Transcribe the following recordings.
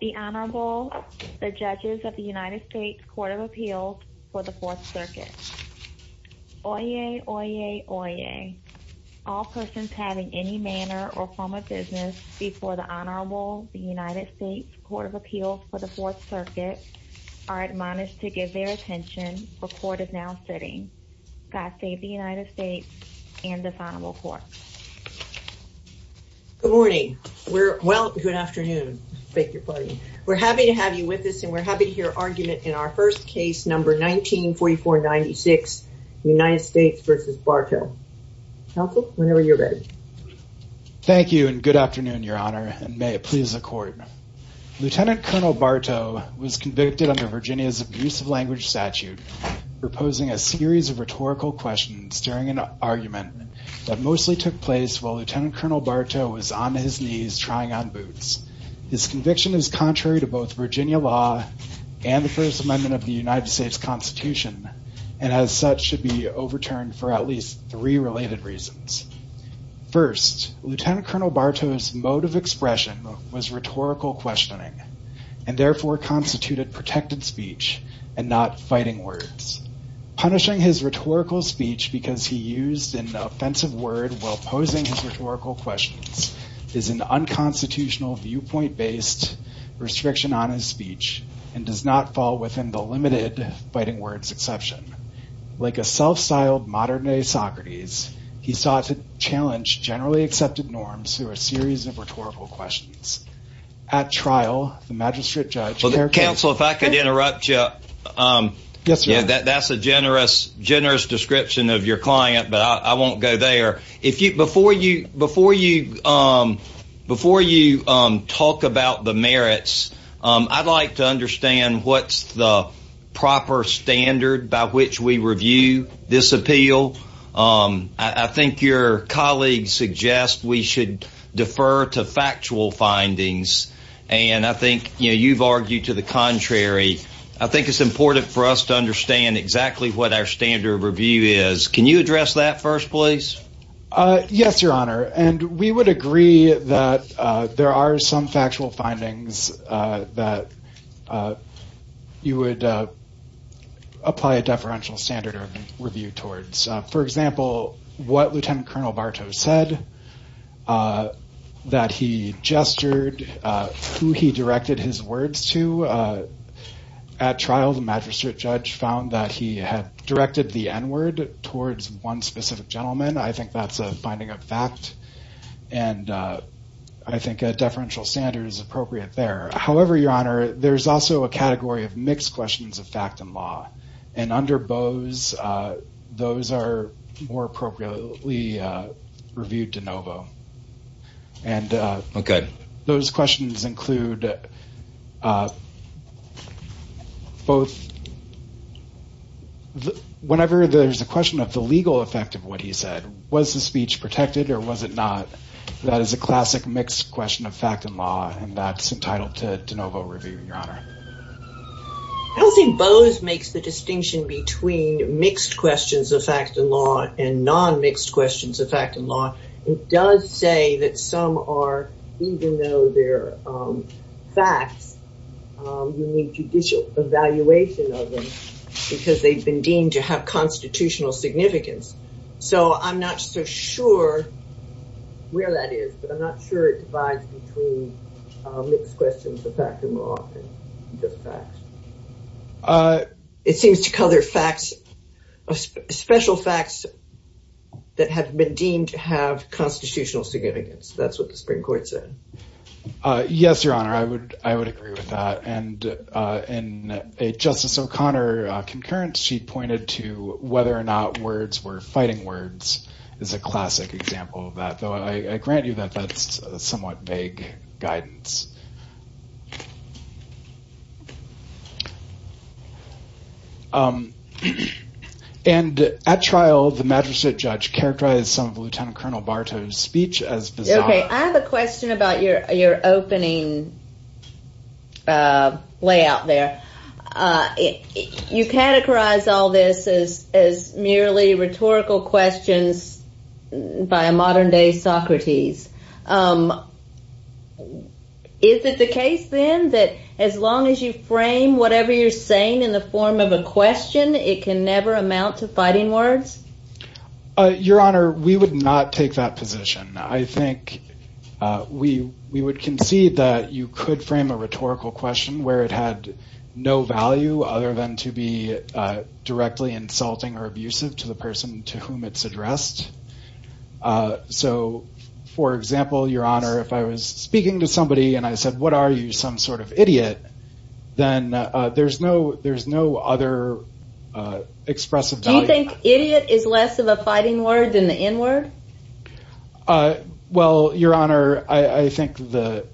The Honorable, the Judges of the United States Court of Appeals for the Fourth Circuit. Oyez, oyez, oyez. All persons having any manner or form of business before the Honorable, the United States Court of Appeals for the Fourth Circuit are admonished to give their God save the United States and the Honorable, the Judges of the United States Court of Appeals for the Fourth Circuit. Good morning. Well, good afternoon. We're happy to have you with us and we're happy to hear argument in our first case, number 1944-96, United States v. Bartow. Counsel, whenever you're ready. Thank you and good afternoon, Your Honor, and may it please the Court. Lieutenant Colonel Bartow was convicted under Virginia's abusive language statute for posing a series of rhetorical questions during an argument that mostly took place while Lieutenant Colonel Bartow was on his knees trying on boots. His conviction is contrary to both Virginia law and the First Amendment of the United States Constitution and as such should be overturned for at least three related reasons. First, Lieutenant Colonel Bartow's mode of expression was rhetorical questioning and therefore constituted protected speech and not fighting words. Punishing his rhetorical speech because he used an offensive word while posing his rhetorical questions is an unconstitutional viewpoint-based restriction on his speech and does not fall within the limited fighting words exception. Like a self-styled modern-day Socrates, he sought to challenge generally accepted norms through a series of rhetorical questions. At trial, the magistrate judge- Counsel, if I could interrupt you. Yes, Your Honor. That's a generous description of your client, but I won't go there. Before you talk about the merits, I'd like to understand what's the proper standard by which we review this appeal. I think your colleagues suggest we should defer to factual findings, and I think you've argued to the contrary. I think it's important for us to understand exactly what our standard of review is. Can you address that first, please? Yes, Your Honor, and we would agree that there are some factual findings that you would apply a deferential standard of review towards. For example, what Lieutenant Colonel Bartow said, that he gestured, who he directed his words to. At trial, the magistrate judge found that he had directed the N-word towards one specific gentleman. I think that's a finding of fact, and I think a deferential standard is appropriate there. However, Your Honor, there's also a category of mixed questions of fact and law, and under Bose, those are more appropriately reviewed de novo. Those questions include both- whenever there's a question of the legal effect of what he said, was the speech protected or was it not? That is a classic mixed question of fact and law, and that's entitled to de novo review, Your Honor. I don't think Bose makes the distinction between mixed questions of fact and law and non-mixed questions of fact and law. It does say that some are, even though they're facts, you need judicial evaluation of them, because they've been deemed to have constitutional significance. So I'm not so sure where that is, but I'm not sure it divides between mixed questions of fact and law and just facts. It seems to color facts, special facts that have been deemed to have constitutional significance. That's what the Supreme Court said. Yes, Your Honor, I would agree with that. In a Justice O'Connor concurrence, she pointed to whether or not words were fighting words is a classic example of that, though I grant you that that's somewhat vague guidance. And at trial, the magistrate judge characterized some of Lieutenant Colonel Bartow's speech as bizarre. OK, I have a question about your opening layout there. You categorize all this as as merely rhetorical questions by a modern day Socrates. Is it the case then that as long as you frame whatever you're saying in the form of a question, it can never amount to fighting words? Your Honor, we would not take that position. I think we we would concede that you could frame a rhetorical question where it had no value other than to be directly insulting or abusive to the person to whom it's addressed. So, for example, Your Honor, if I was speaking to somebody and I said, what are you, some sort of idiot? Then there's no there's no other expressive value. Do you think idiot is less of a fighting word than the N-word? Well, Your Honor, I think the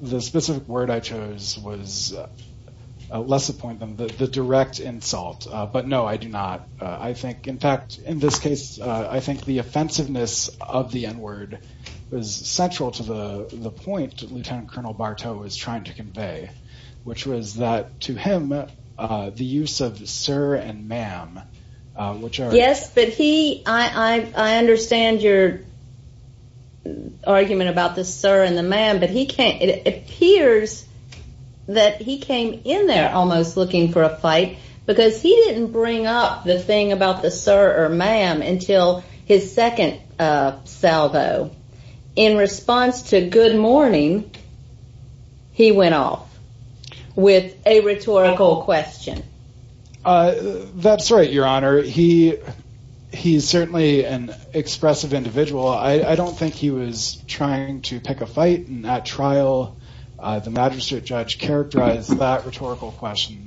the specific word I chose was less a point than the direct insult. But no, I do not. I think in fact, in this case, I think the offensiveness of the N-word was central to the point that Lieutenant Colonel Bartow was trying to convey, which was that to him, the use of sir and ma'am, which are. Yes, but he I understand your argument about the sir and the ma'am, but he can't. It appears that he came in there almost looking for a fight because he didn't bring up the thing about the sir or ma'am until his second salvo in response to good morning. He went off with a rhetorical question. That's right, Your Honor. He he's certainly an expressive individual. I don't think he was trying to pick a fight in that trial. The magistrate judge characterized that rhetorical question,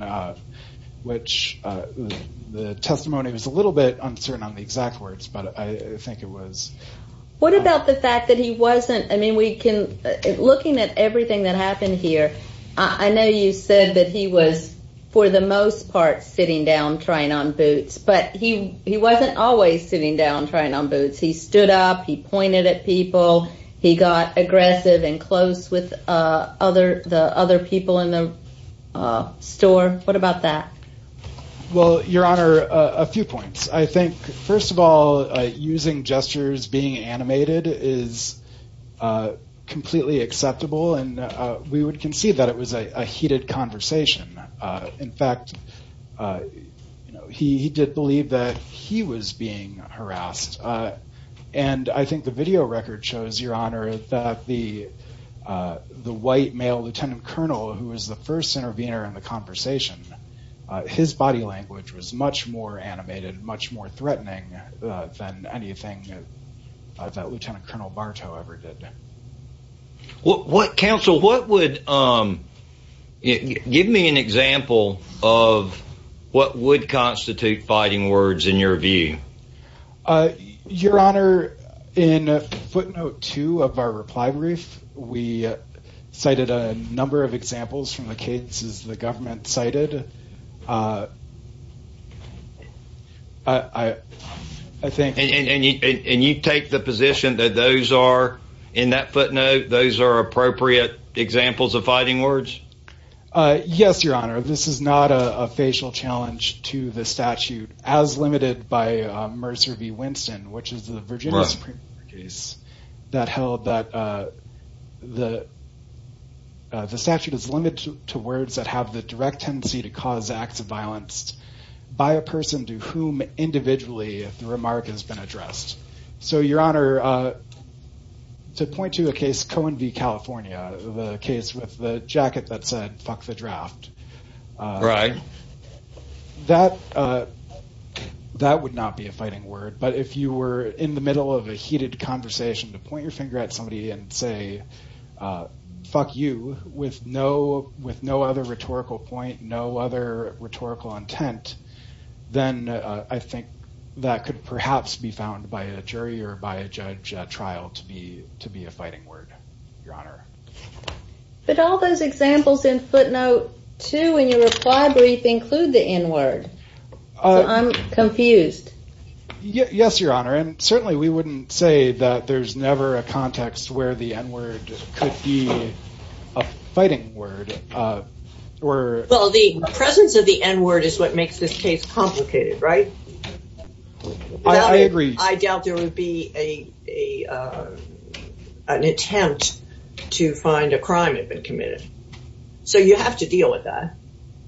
which the testimony was a little bit uncertain on the exact words, but I think it was. What about the fact that he wasn't? I mean, we can looking at everything that happened here. I know you said that he was for the most part sitting down trying on boots, but he he wasn't always sitting down trying on boots. He stood up. He pointed at people. He got aggressive and close with other the other people in the store. What about that? Well, Your Honor, a few points. I think, first of all, using gestures, being animated is completely acceptable. And we would concede that it was a heated conversation. In fact, he did believe that he was being harassed. And I think the video record shows, Your Honor, that the the white male lieutenant colonel who was the first intervener in the conversation, his body language was much more animated, much more threatening than anything that Lieutenant Colonel Bartow ever did. What counsel, what would give me an example of what would constitute fighting words in your view? Your Honor, in footnote two of our reply brief, we cited a number of examples from the cases the government cited. I think and you take the position that those are in that footnote. Those are appropriate examples of fighting words. Yes, Your Honor. This is not a facial challenge to the statute as limited by Mercer v. Winston, which is the Virginia Supreme Court case that held that the. The statute is limited to words that have the direct tendency to cause acts of violence by a person to whom individually the remark has been addressed. So, Your Honor, to point to a case Cohen v. California, the case with the jacket that said, fuck the draft. Right. That that would not be a fighting word. But if you were in the middle of a heated conversation to point your finger at somebody and say, fuck you with no with no other rhetorical point, no other rhetorical intent, then I think that could perhaps be found by a jury or by a judge trial to be to be a fighting word. Your Honor. But all those examples in footnote two in your reply brief include the N word. I'm confused. Yes, Your Honor. And certainly we wouldn't say that there's never a context where the N word could be a fighting word. Well, the presence of the N word is what makes this case complicated, right? I agree. I doubt there would be a an attempt to find a crime had been committed. So you have to deal with that.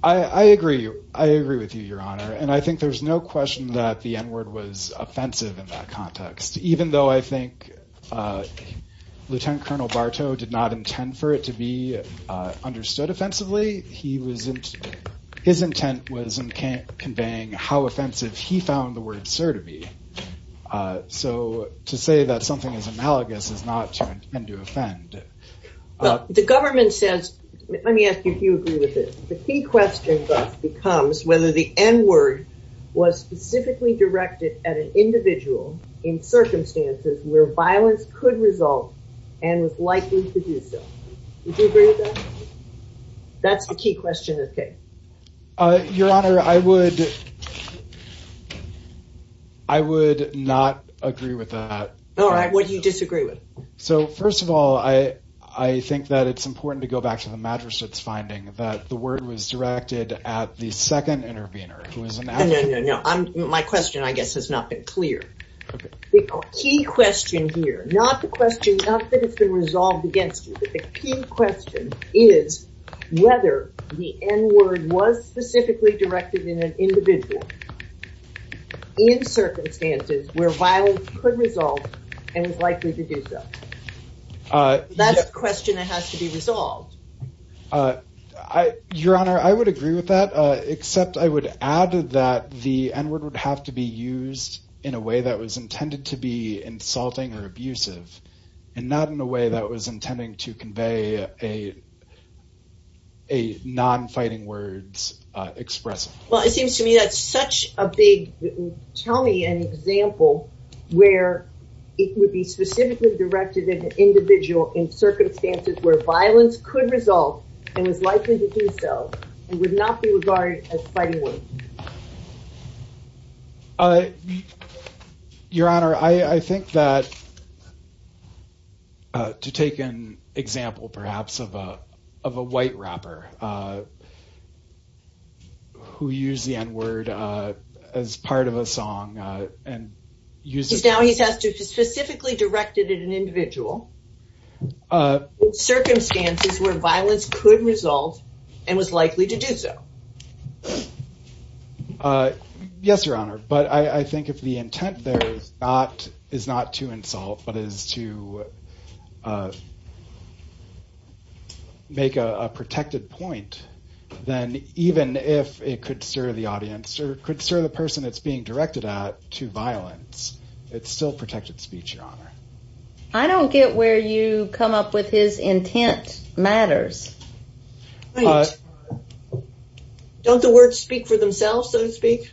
I agree. I agree with you, Your Honor. And I think there's no question that the N word was offensive in that context, even though I think Lieutenant Colonel Bartow did not intend for it to be understood offensively. He was his intent was conveying how offensive he found the word sir to be. So to say that something is analogous is not to offend. The government says, let me ask you if you agree with this. The key question becomes whether the N word was specifically directed at an individual in circumstances where violence could result and was likely to do so. Would you agree with that? That's the key question of the case. Your Honor, I would. I would not agree with that. All right. What do you disagree with? So, first of all, I, I think that it's important to go back to the mattress. It's finding that the word was directed at the second intervener. No, no, no, no. My question, I guess, has not been clear. The key question here, not the question, not that it's been resolved against the key question is whether the N word was specifically directed in an individual. In circumstances where violence could result and was likely to do so. That's a question that has to be resolved. Your Honor, I would agree with that, except I would add that the N word would have to be used in a way that was intended to be insulting or abusive and not in a way that was intending to convey a. A non-fighting words express. Well, it seems to me that's such a big. Tell me an example where it would be specifically directed at an individual in circumstances where violence could result and was likely to do so. It would not be regarded as fighting with. Your Honor, I think that. To take an example, perhaps of a of a white rapper. Who use the N word as part of a song and use it now, he has to specifically directed at an individual. Circumstances where violence could result and was likely to do so. Yes, Your Honor, but I think if the intent there is not is not to insult, but is to. Make a protected point, then even if it could serve the audience or could serve the person that's being directed at to violence, it's still protected speech. Your Honor, I don't get where you come up with his intent matters. Don't the words speak for themselves, so to speak.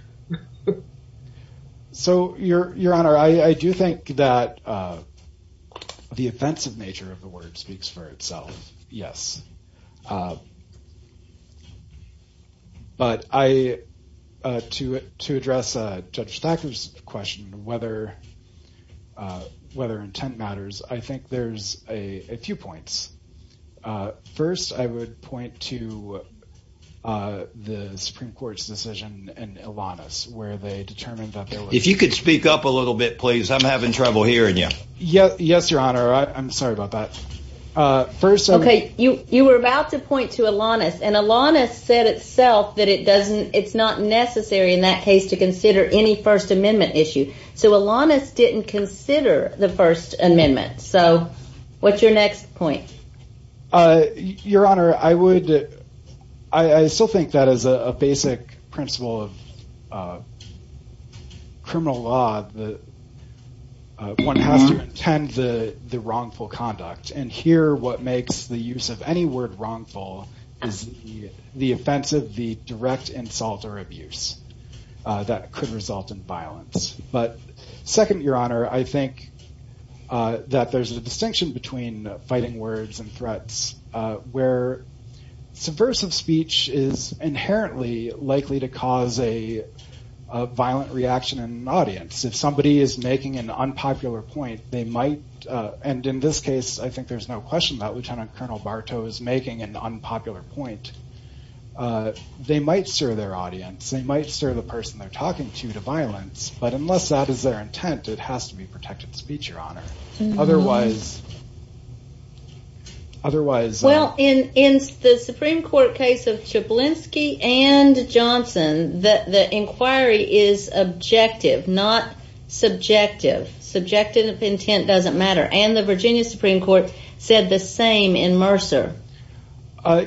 So, Your Honor, I do think that the offensive nature of the word speaks for itself. Yes. But I to to address Judge Thacker's question, whether whether intent matters, I think there's a few points. First, I would point to the Supreme Court's decision and Alana's where they determined that if you could speak up a little bit, please. I'm having trouble hearing you. Yes. Yes, Your Honor. I'm sorry about that. First, OK, you you were about to point to Alana's and Alana's said itself that it doesn't. It's not necessary in that case to consider any First Amendment issue. So Alana's didn't consider the First Amendment. So what's your next point? Your Honor, I would I still think that as a basic principle of criminal law, that one has to intend the wrongful conduct. And here what makes the use of any word wrongful is the offensive, the direct insult or abuse that could result in violence. But second, Your Honor, I think that there's a distinction between fighting words and threats where subversive speech is inherently likely to cause a violent reaction in an audience. If somebody is making an unpopular point, they might. And in this case, I think there's no question that Lieutenant Colonel Bartow is making an unpopular point. They might serve their audience. They might serve the person they're talking to to violence. But unless that is their intent, it has to be protected speech, Your Honor. Otherwise. Otherwise, well, in the Supreme Court case of Chablisky and Johnson, that the inquiry is objective, not subjective. Subjective intent doesn't matter. And the Virginia Supreme Court said the same in Mercer.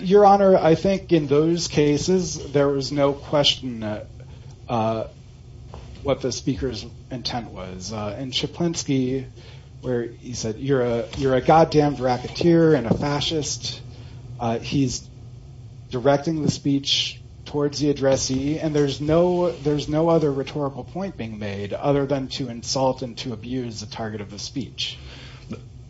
Your Honor, I think in those cases, there was no question what the speaker's intent was. And Chablisky where he said, you're a you're a goddamn racketeer and a fascist. He's directing the speech towards the addressee. And there's no there's no other rhetorical point being made other than to insult and to abuse the target of the speech.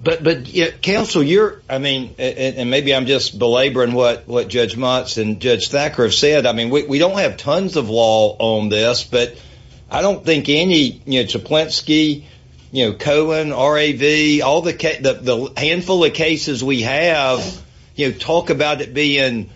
But counsel, you're I mean, and maybe I'm just belaboring what what Judge Motz and Judge Thacker have said. I mean, we don't have tons of law on this, but I don't think any Chablisky, Cohen, R.A.V., all the handful of cases we have. You talk about it being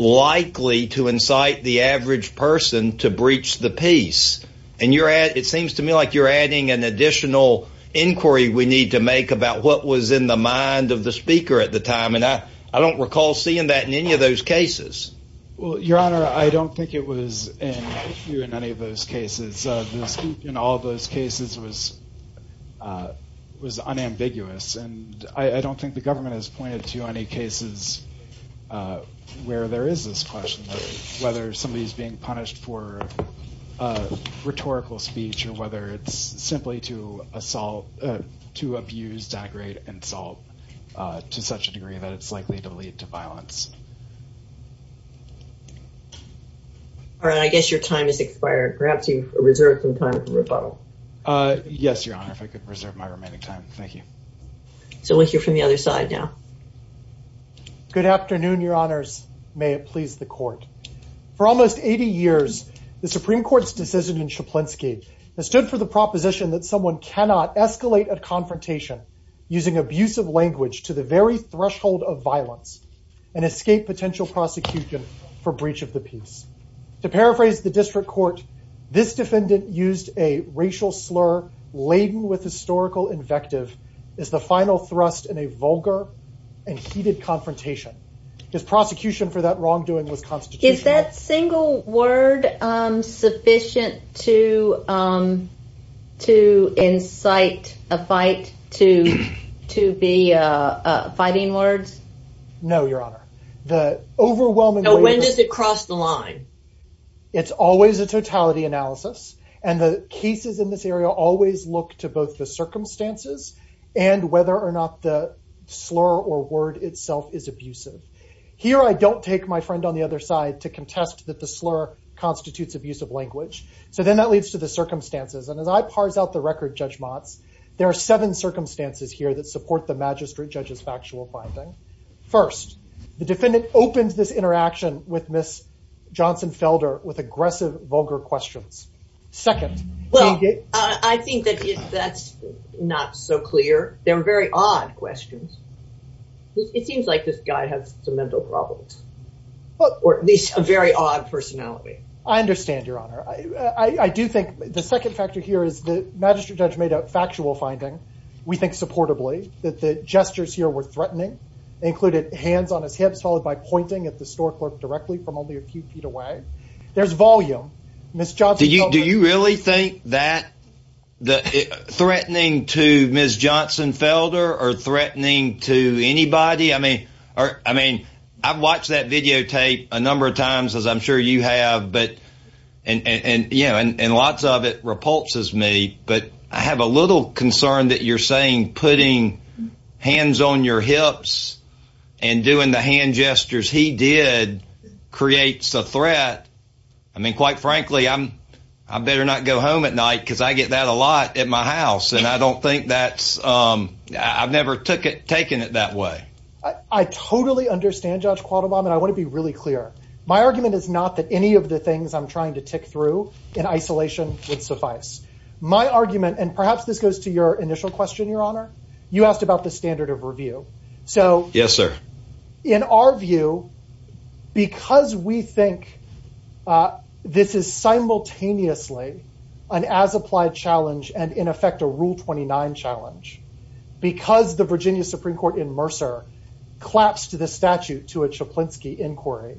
likely to incite the average person to breach the peace. It seems to me like you're adding an additional inquiry we need to make about what was in the mind of the speaker at the time. And I don't recall seeing that in any of those cases. Well, Your Honor, I don't think it was in any of those cases. And all those cases was was unambiguous. And I don't think the government has pointed to any cases where there is this question of whether somebody is being punished for rhetorical speech or whether it's simply to assault to abuse, degrade, insult to such a degree that it's likely to lead to violence. All right. I guess your time is expired. Perhaps you reserve some time for rebuttal. Yes, Your Honor, if I could reserve my remaining time. Thank you. So we'll hear from the other side now. Good afternoon, Your Honors. May it please the court. For almost 80 years, the Supreme Court's decision in Chablisky stood for the proposition that someone cannot escalate a confrontation using abusive language to the very threshold of violence and escape potential prosecution for breach of the peace. To paraphrase the district court, this defendant used a racial slur laden with historical invective as the final thrust in a vulgar and heated confrontation. His prosecution for that wrongdoing was constitutional. Is that single word sufficient to to incite a fight to to be fighting words? No, Your Honor. When does it cross the line? It's always a totality analysis. And the cases in this area always look to both the circumstances and whether or not the slur or word itself is abusive. Here, I don't take my friend on the other side to contest that the slur constitutes abusive language. So then that leads to the circumstances. And as I parse out the record, Judge Motz, there are seven circumstances here that support the magistrate judge's factual finding. First, the defendant opens this interaction with Miss Johnson Felder with aggressive, vulgar questions. Second, well, I think that that's not so clear. They're very odd questions. It seems like this guy has some mental problems or at least a very odd personality. I understand, Your Honor. I do think the second factor here is the magistrate judge made a factual finding. We think supportably that the gestures here were threatening, included hands on his hips, followed by pointing at the store clerk directly from only a few feet away. There's volume. Miss Johnson, do you really think that the threatening to Miss Johnson Felder or threatening to anybody? I mean, I mean, I've watched that videotape a number of times, as I'm sure you have. But and, you know, and lots of it repulses me. But I have a little concern that you're saying putting hands on your hips and doing the hand gestures he did creates a threat. I mean, quite frankly, I'm I better not go home at night because I get that a lot at my house. And I don't think that's I've never took it, taken it that way. I totally understand, Judge Quattlebaum. And I want to be really clear. My argument is not that any of the things I'm trying to tick through in isolation would suffice my argument. And perhaps this goes to your initial question, Your Honor. You asked about the standard of review. So, yes, sir. In our view, because we think this is simultaneously an as-applied challenge and in effect a Rule 29 challenge, because the Virginia Supreme Court in Mercer collapsed the statute to a Chaplinsky inquiry,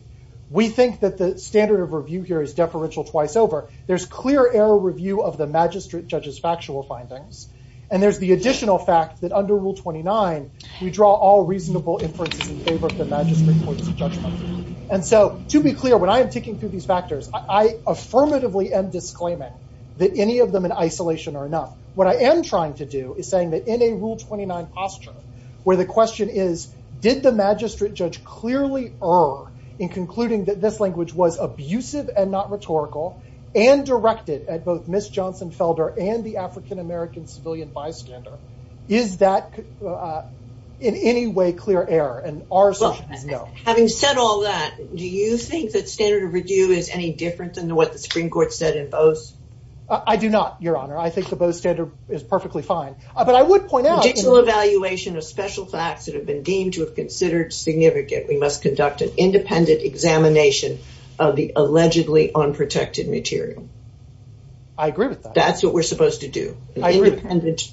we think that the standard of review here is deferential twice over. There's clear error review of the magistrate judge's factual findings. And there's the additional fact that under Rule 29, we draw all reasonable inferences in favor of the magistrate court's judgment. And so to be clear, when I am ticking through these factors, I affirmatively am disclaiming that any of them in isolation are enough. What I am trying to do is saying that in a Rule 29 posture where the question is, did the magistrate judge clearly err in concluding that this language was abusive and not rhetorical and directed at both Ms. Johnson Felder and the African-American civilian bystander? Is that in any way clear error? And our assertion is no. Well, having said all that, do you think that standard of review is any different than what the Supreme Court said in Bose? I do not, Your Honor. I think the Bose standard is perfectly fine. But I would point out- We must conduct an independent examination of the allegedly unprotected material. I agree with that. That's what we're supposed to do. An independent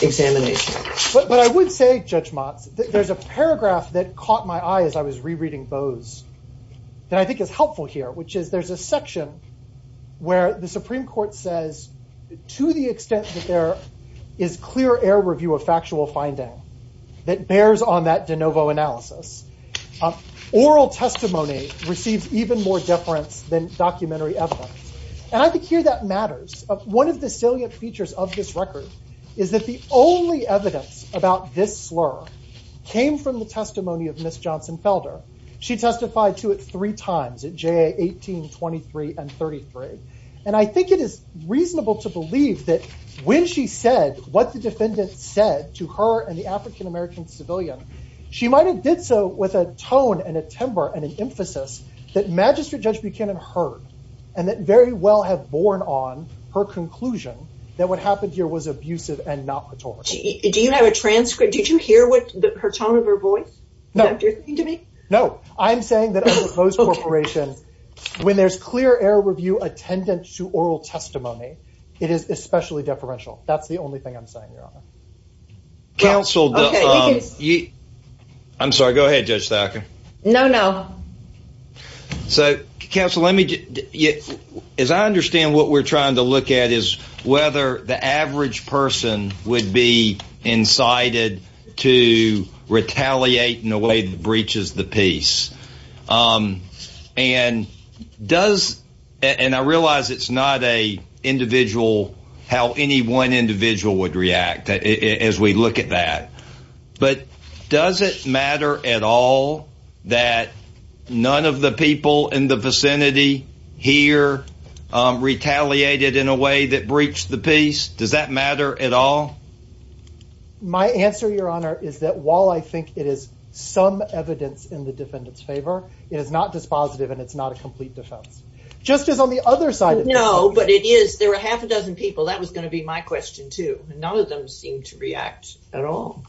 examination. But I would say, Judge Motz, that there's a paragraph that caught my eye as I was rereading Bose that I think is helpful here, which is there's a section where the Supreme Court says, to the extent that there is clear error review of factual finding, that bears on that de novo analysis, oral testimony receives even more deference than documentary evidence. And I think here that matters. One of the salient features of this record is that the only evidence about this slur came from the testimony of Ms. Johnson Felder. She testified to it three times at JA 18, 23, and 33. And I think it is reasonable to believe that when she said what the defendant said to her and the African-American civilian, she might have did so with a tone and a timbre and an emphasis that Magistrate Judge Buchanan heard and that very well have borne on her conclusion that what happened here was abusive and not rhetorical. Do you have a transcript? Did you hear her tone of her voice? No, I'm saying that when there's clear error review attendant to oral testimony, it is especially deferential. That's the only thing I'm saying, Your Honor. Counsel, I'm sorry. Go ahead, Judge Thacker. No, no. So, Counsel, as I understand what we're trying to look at is whether the average person would be incited to retaliate in a way that breaches the peace. And I realize it's not how any one individual would react as we look at that. But does it matter at all that none of the people in the vicinity here retaliated in a way that breached the peace? Does that matter at all? My answer, Your Honor, is that while I think it is some evidence in the defendant's favor, it is not dispositive and it's not a complete defense, just as on the other side. No, but it is. There are half a dozen people. That was going to be my question, too. None of them seem to react at all.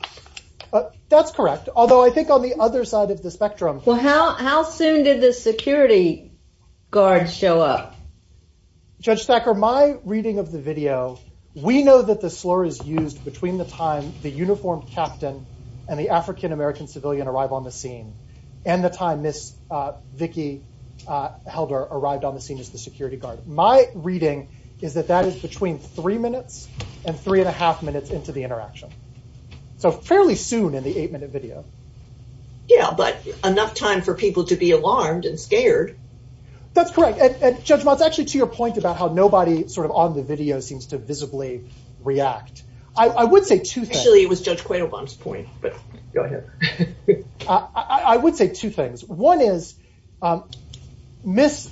That's correct. Although I think on the other side of the spectrum. Well, how soon did the security guard show up? Judge Thacker, my reading of the video, we know that the slur is used between the time the uniformed captain and the African-American civilian arrive on the scene and the time Miss Vicki Helder arrived on the scene as the security guard. My reading is that that is between three minutes and three and a half minutes into the interaction. So fairly soon in the eight minute video. Yeah, but enough time for people to be alarmed and scared. That's correct. And Judge Mott, it's actually to your point about how nobody sort of on the video seems to visibly react. I would say two things. Actually, it was Judge Quaylebaum's point, but go ahead. I would say two things. One is Miss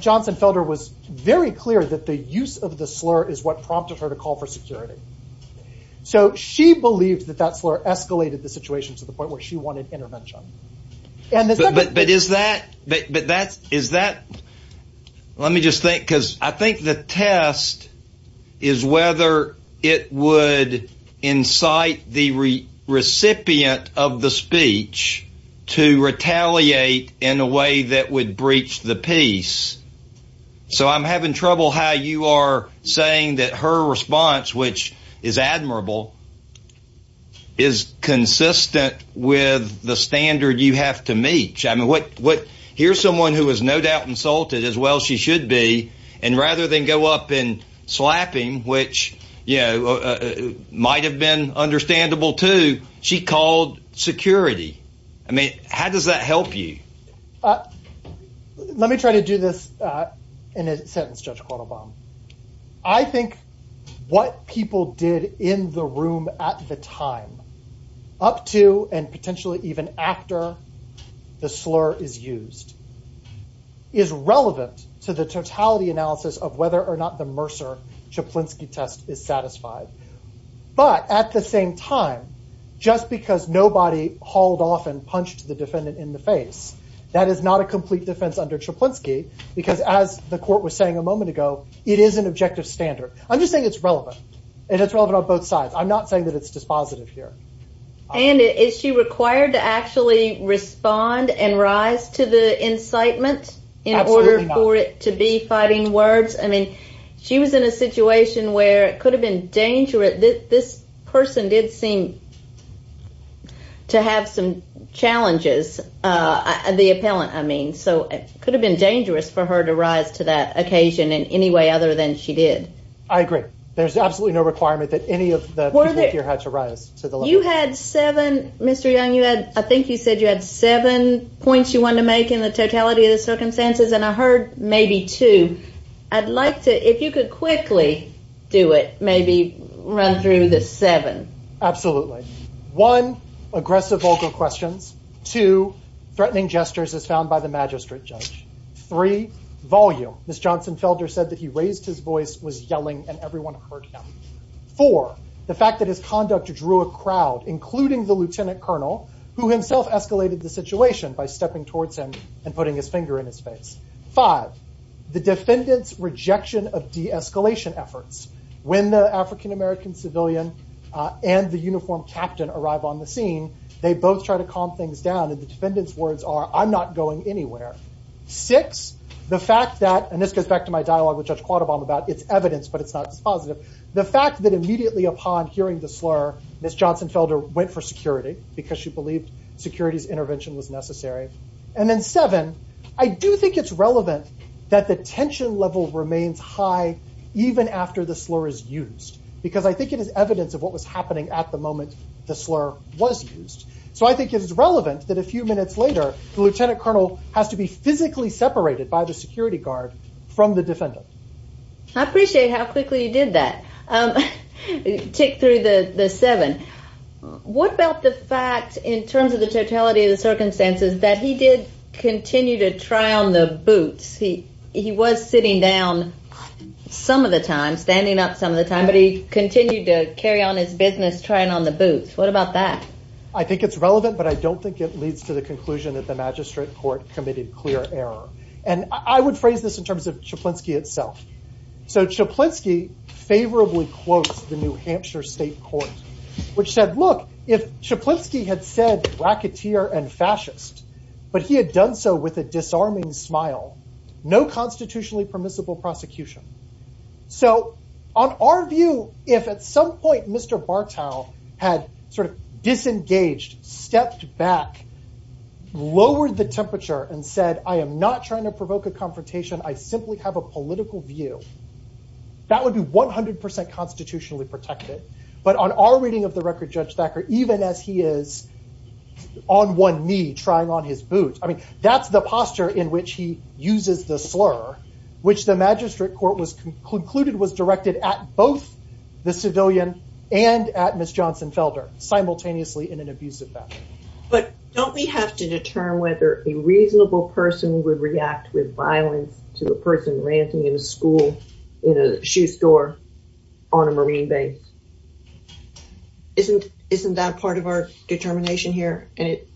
Johnson Felder was very clear that the use of the slur is what prompted her to call for security. So she believed that that slur escalated the situation to the point where she wanted intervention. But is that. But that is that. Let me just think, because I think the test is whether it would incite the recipient of the speech to retaliate in a way that would breach the peace. So I'm having trouble how you are saying that her response, which is admirable, is consistent with the standard you have to meet. I mean, what what here's someone who is no doubt insulted as well. She should be. And rather than go up and slapping, which might have been understandable to she called security. I mean, how does that help you? Let me try to do this in a sentence, Judge Quaylebaum. I think what people did in the room at the time, up to and potentially even after the slur is used, is relevant to the totality analysis of whether or not the Mercer-Czaplinski test is satisfied. But at the same time, just because nobody hauled off and punched the defendant in the face, that is not a complete defense under Czaplinski. Because as the court was saying a moment ago, it is an objective standard. I'm just saying it's relevant and it's relevant on both sides. I'm not saying that it's dispositive here. And is she required to actually respond and rise to the incitement in order for it to be fighting words? I mean, she was in a situation where it could have been dangerous. This person did seem to have some challenges, the appellant, I mean. So it could have been dangerous for her to rise to that occasion in any way other than she did. I agree. There's absolutely no requirement that any of the people here had to rise to the level. You had seven, Mr. Young, you had, I think you said you had seven points you wanted to make in the totality of the circumstances. And I heard maybe two. I'd like to, if you could quickly do it, maybe run through the seven. Absolutely. One, aggressive vocal questions. Two, threatening gestures as found by the magistrate judge. Three, volume. Ms. Johnson Felder said that he raised his voice, was yelling, and everyone heard him. Four, the fact that his conduct drew a crowd, including the lieutenant colonel, who himself escalated the situation by stepping towards him and putting his finger in his face. Five, the defendant's rejection of de-escalation efforts. When the African-American civilian and the uniformed captain arrive on the scene, they both try to calm things down, and the defendant's words are, I'm not going anywhere. Six, the fact that, and this goes back to my dialogue with Judge Quattlebaum about it's evidence, but it's not just positive. The fact that immediately upon hearing the slur, Ms. Johnson Felder went for security because she believed security's intervention was necessary. And then seven, I do think it's relevant that the tension level remains high even after the slur is used. Because I think it is evidence of what was happening at the moment the slur was used. So I think it's relevant that a few minutes later, the lieutenant colonel has to be physically separated by the security guard from the defendant. I appreciate how quickly you did that. Tick through the seven. What about the fact in terms of the totality of the circumstances that he did continue to try on the boots? He was sitting down some of the time, standing up some of the time, but he continued to carry on his business trying on the boots. What about that? I think it's relevant, but I don't think it leads to the conclusion that the magistrate court committed clear error. And I would phrase this in terms of Chaplinsky itself. So Chaplinsky favorably quotes the New Hampshire State Court, which said, look, if Chaplinsky had said racketeer and fascist, but he had done so with a disarming smile, no constitutionally permissible prosecution. So on our view, if at some point Mr. Bartow had sort of disengaged, stepped back, lowered the temperature and said, I am not trying to provoke a confrontation. I simply have a political view. That would be 100 percent constitutionally protected. But on our reading of the record, Judge Thacker, even as he is on one knee trying on his boots. I mean, that's the posture in which he uses the slur, which the magistrate court was concluded was directed at both the civilian and at Miss Johnson Felder, simultaneously in an abusive fashion. But don't we have to determine whether a reasonable person would react with violence to the person ranting in a school, in a shoe store, on a Marine base? Isn't isn't that part of our determination here? And it's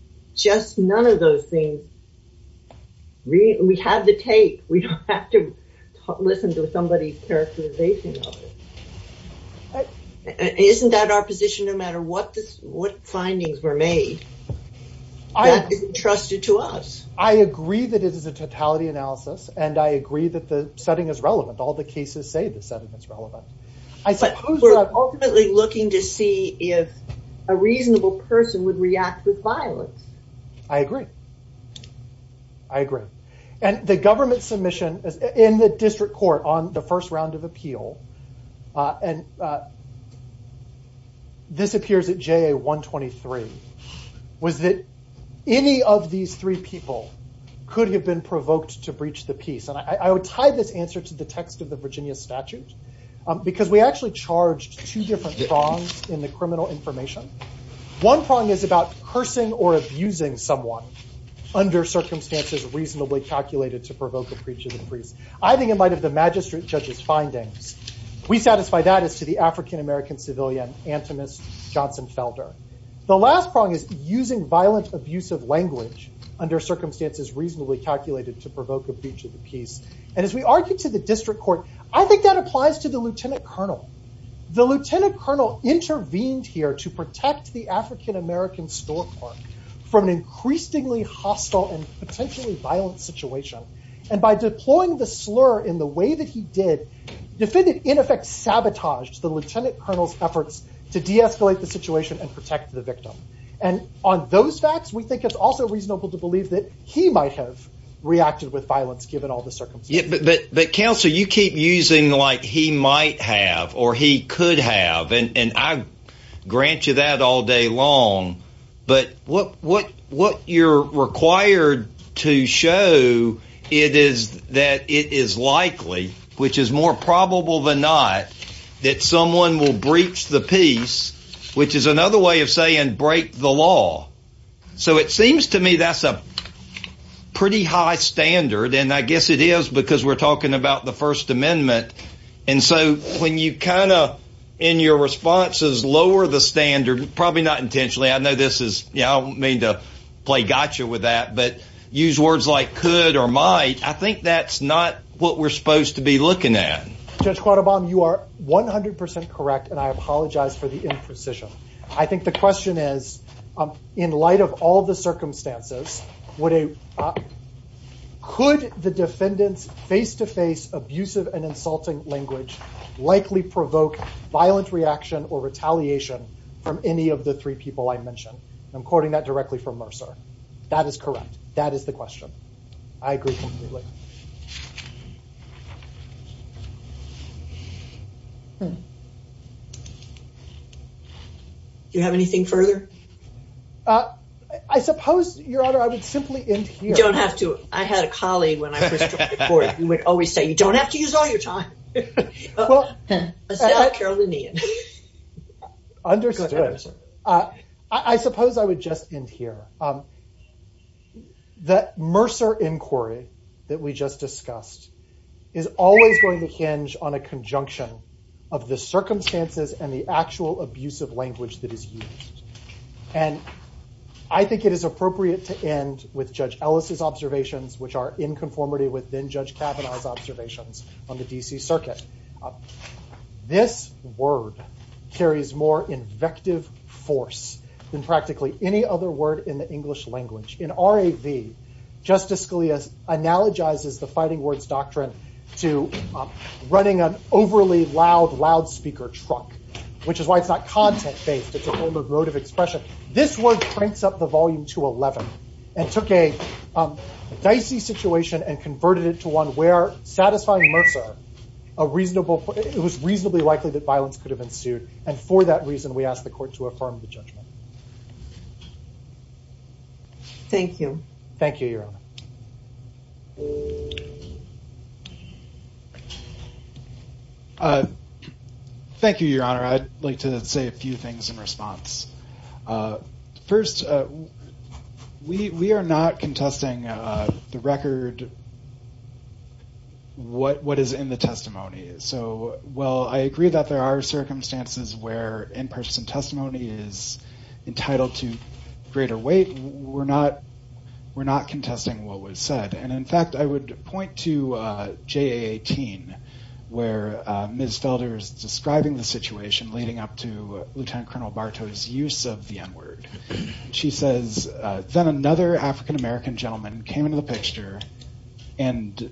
just none of those things. We have the tape. We don't have to listen to somebody's characterization. Isn't that our position, no matter what this what findings were made? That is entrusted to us. I agree that it is a totality analysis and I agree that the setting is relevant. All the cases say the setting is relevant. I suppose we're ultimately looking to see if a reasonable person would react with violence. I agree. I agree. And the government submission in the district court on the first round of appeal, and this appears at JA 123, was that any of these three people could have been provoked to breach the peace. And I would tie this answer to the text of the Virginia statute, because we actually charged two different prongs in the criminal information. One prong is about cursing or abusing someone under circumstances reasonably calculated to provoke a breach of the peace. I think in light of the magistrate judge's findings, we satisfy that as to the African-American civilian, antimist Johnson Felder. The last prong is using violent, abusive language under circumstances reasonably calculated to provoke a breach of the peace. And as we argue to the district court, I think that applies to the lieutenant colonel. The lieutenant colonel intervened here to protect the African-American store clerk from an increasingly hostile and potentially violent situation. And by deploying the slur in the way that he did, defended in effect sabotaged the lieutenant colonel's efforts to de-escalate the situation and protect the victim. And on those facts, we think it's also reasonable to believe that he might have reacted with violence given all the circumstances. But counsel, you keep using like he might have or he could have. And I grant you that all day long. But what you're required to show is that it is likely, which is more probable than not, that someone will breach the peace, which is another way of saying break the law. So it seems to me that's a pretty high standard. And I guess it is because we're talking about the First Amendment. And so when you kind of, in your responses, lower the standard, probably not intentionally. I know this is, you know, I don't mean to play gotcha with that, but use words like could or might. I think that's not what we're supposed to be looking at. Judge Quattlebaum, you are 100 percent correct. And I apologize for the imprecision. I think the question is, in light of all the circumstances, could the defendant's face-to-face abusive and insulting language likely provoke violent reaction or retaliation from any of the three people I mentioned? I'm quoting that directly from Mercer. That is correct. That is the question. I agree completely. Do you have anything further? I suppose, Your Honor, I would simply end here. You don't have to. I had a colleague when I first took the court, who would always say, you don't have to use all your time. I said, I don't care what they need. Understood. I suppose I would just end here. The Mercer inquiry that we just discussed is always going to hinge on a conjunction of the circumstances and the actual abusive language that is used. And I think it is appropriate to end with Judge Ellis's observations, which are in conformity with then Judge Kavanaugh's observations on the D.C. Circuit. This word carries more invective force than practically any other word in the English language. In R.A.V., Justice Scalia analogizes the fighting words doctrine to running an overly loud loudspeaker truck, which is why it's not content-based. It's a form of emotive expression. This word cranks up the volume to 11 and took a dicey situation and converted it to one where satisfying Mercer, it was reasonably likely that violence could have ensued. And for that reason, we asked the court to affirm the judgment. Thank you. Thank you, Your Honor. Thank you, Your Honor. I'd like to say a few things in response. First, we are not contesting the record, what is in the testimony. So while I agree that there are circumstances where in-person testimony is entitled to greater weight, we're not contesting what was said. And in fact, I would point to JA18 where Ms. Felder is describing the situation leading up to Lieutenant Colonel Bartow's use of the N-word. She says, then another African-American gentleman came into the picture and in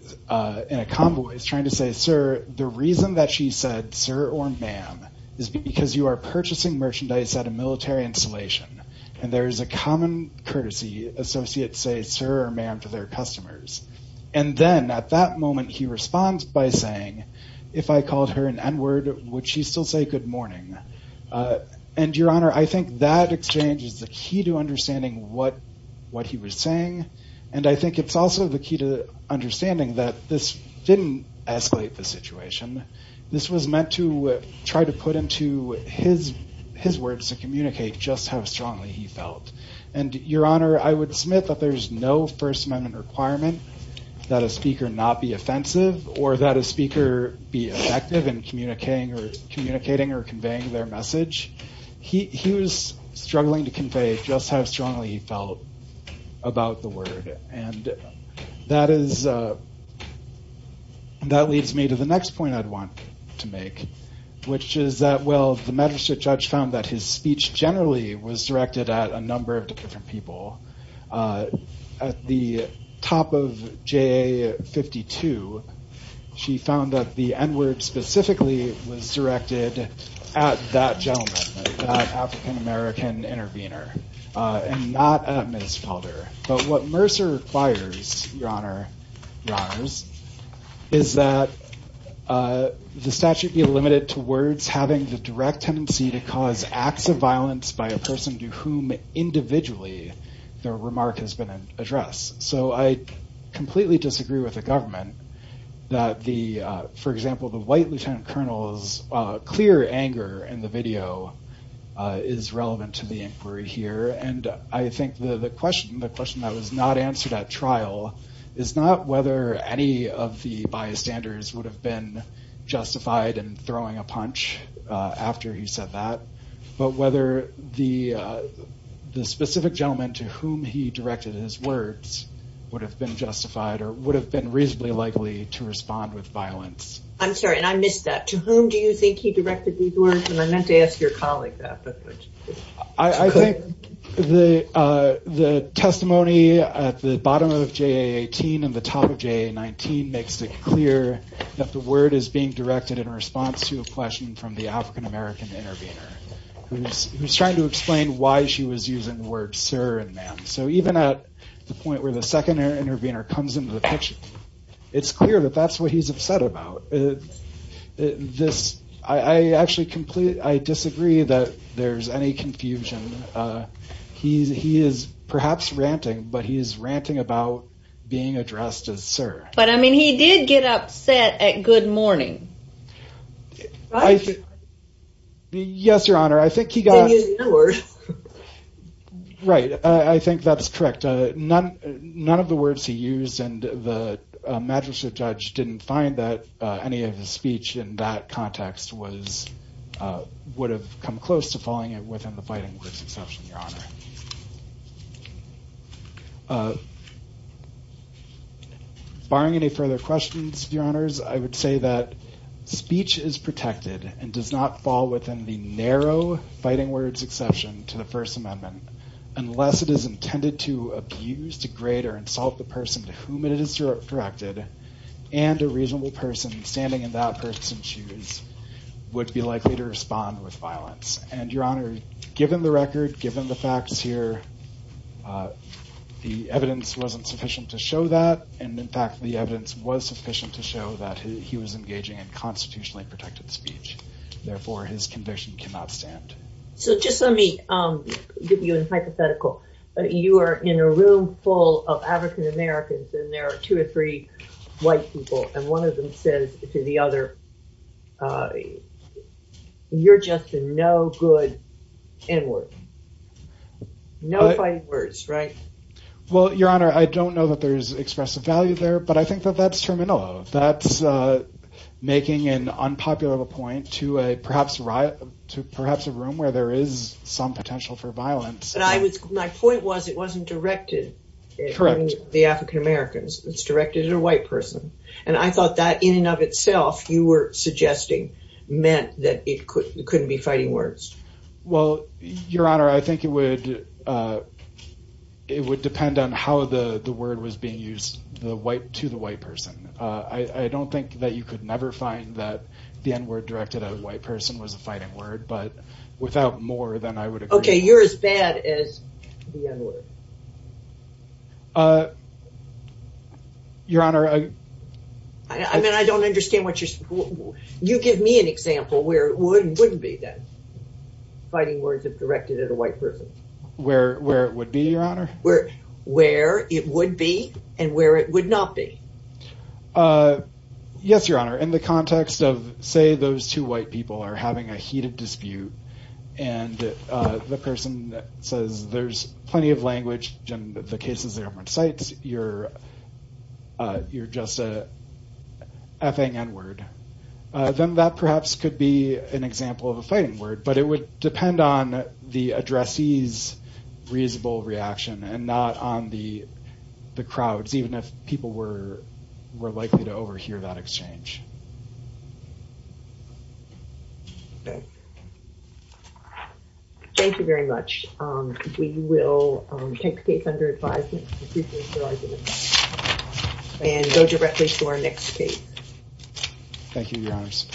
a convoy is trying to say, sir, the reason that she said sir or ma'am is because you are purchasing merchandise at a military installation. And there is a common courtesy, associates say sir or ma'am to their customers. And then at that moment, he responds by saying, if I called her an N-word, would she still say good morning? And, Your Honor, I think that exchange is the key to understanding what he was saying. And I think it's also the key to understanding that this didn't escalate the situation. This was meant to try to put into his words to communicate just how strongly he felt. And, Your Honor, I would submit that there is no First Amendment requirement that a speaker not be offensive or that a speaker be effective in communicating or conveying their message. He was struggling to convey just how strongly he felt about the word. And that leads me to the next point I'd want to make, which is that, well, the magistrate judge found that his speech generally was directed at a number of different people. At the top of JA-52, she found that the N-word specifically was directed at that gentleman, that African-American intervener, and not at Ms. Paulder. But what Mercer requires, Your Honor, Your Honors, is that the statute be limited towards having the direct tendency to cause acts of violence by a person to whom individually their remark has been addressed. So I completely disagree with the government that the, for example, the white lieutenant colonel's clear anger in the video is relevant to the inquiry here. And I think the question that was not answered at trial is not whether any of the bystanders would have been justified in throwing a punch after he said that, but whether the specific gentleman to whom he directed his words would have been justified or would have been reasonably likely to respond with violence. I'm sorry, and I missed that. To whom do you think he directed these words? And I meant to ask your colleague that. I think the testimony at the bottom of JA-18 and the top of JA-19 makes it clear that the word is being directed in response to a question from the African-American intervener, who's trying to explain why she was using the words sir and ma'am. So even at the point where the second intervener comes into the picture, it's clear that that's what he's upset about. I actually disagree that there's any confusion. He is perhaps ranting, but he is ranting about being addressed as sir. But I mean, he did get upset at good morning. Yes, Your Honor, I think he got... Any of his speech in that context would have come close to falling within the fighting words exception, Your Honor. Barring any further questions, Your Honors, I would say that speech is protected and does not fall within the narrow fighting words exception to the First Amendment, unless it is intended to abuse, degrade or insult the person to whom it is directed and a reasonable person standing in that person's shoes would be likely to respond with violence. And Your Honor, given the record, given the facts here, the evidence wasn't sufficient to show that. And in fact, the evidence was sufficient to show that he was engaging in constitutionally protected speech. Therefore, his conviction cannot stand. So just let me give you a hypothetical. You are in a room full of African-Americans and there are two or three white people. And one of them says to the other, you're just a no good N-word. No fighting words, right? Well, Your Honor, I don't know that there is expressive value there, but I think that that's terminal. That's making an unpopular point to perhaps a room where there is some potential for violence. My point was it wasn't directed at the African-Americans. It's directed at a white person. And I thought that in and of itself you were suggesting meant that it couldn't be fighting words. Well, Your Honor, I think it would it would depend on how the word was being used to the white person. I don't think that you could never find that the N-word directed at a white person was a fighting word. But without more than I would agree. OK, you're as bad as the N-word. Your Honor. I mean, I don't understand what you're saying. You give me an example where it would and wouldn't be then. Fighting words if directed at a white person. Where it would be, Your Honor? Where it would be and where it would not be. Yes, Your Honor. In the context of, say, those two white people are having a heated dispute and the person says there's plenty of language in the cases they have on sites. You're you're just a F-ing N-word. Then that perhaps could be an example of a fighting word. But it would depend on the addressees reasonable reaction and not on the the crowds. Even if people were more likely to overhear that exchange. Thank you very much. We will take the case under advisement. And go directly to our next case. Thank you, Your Honors.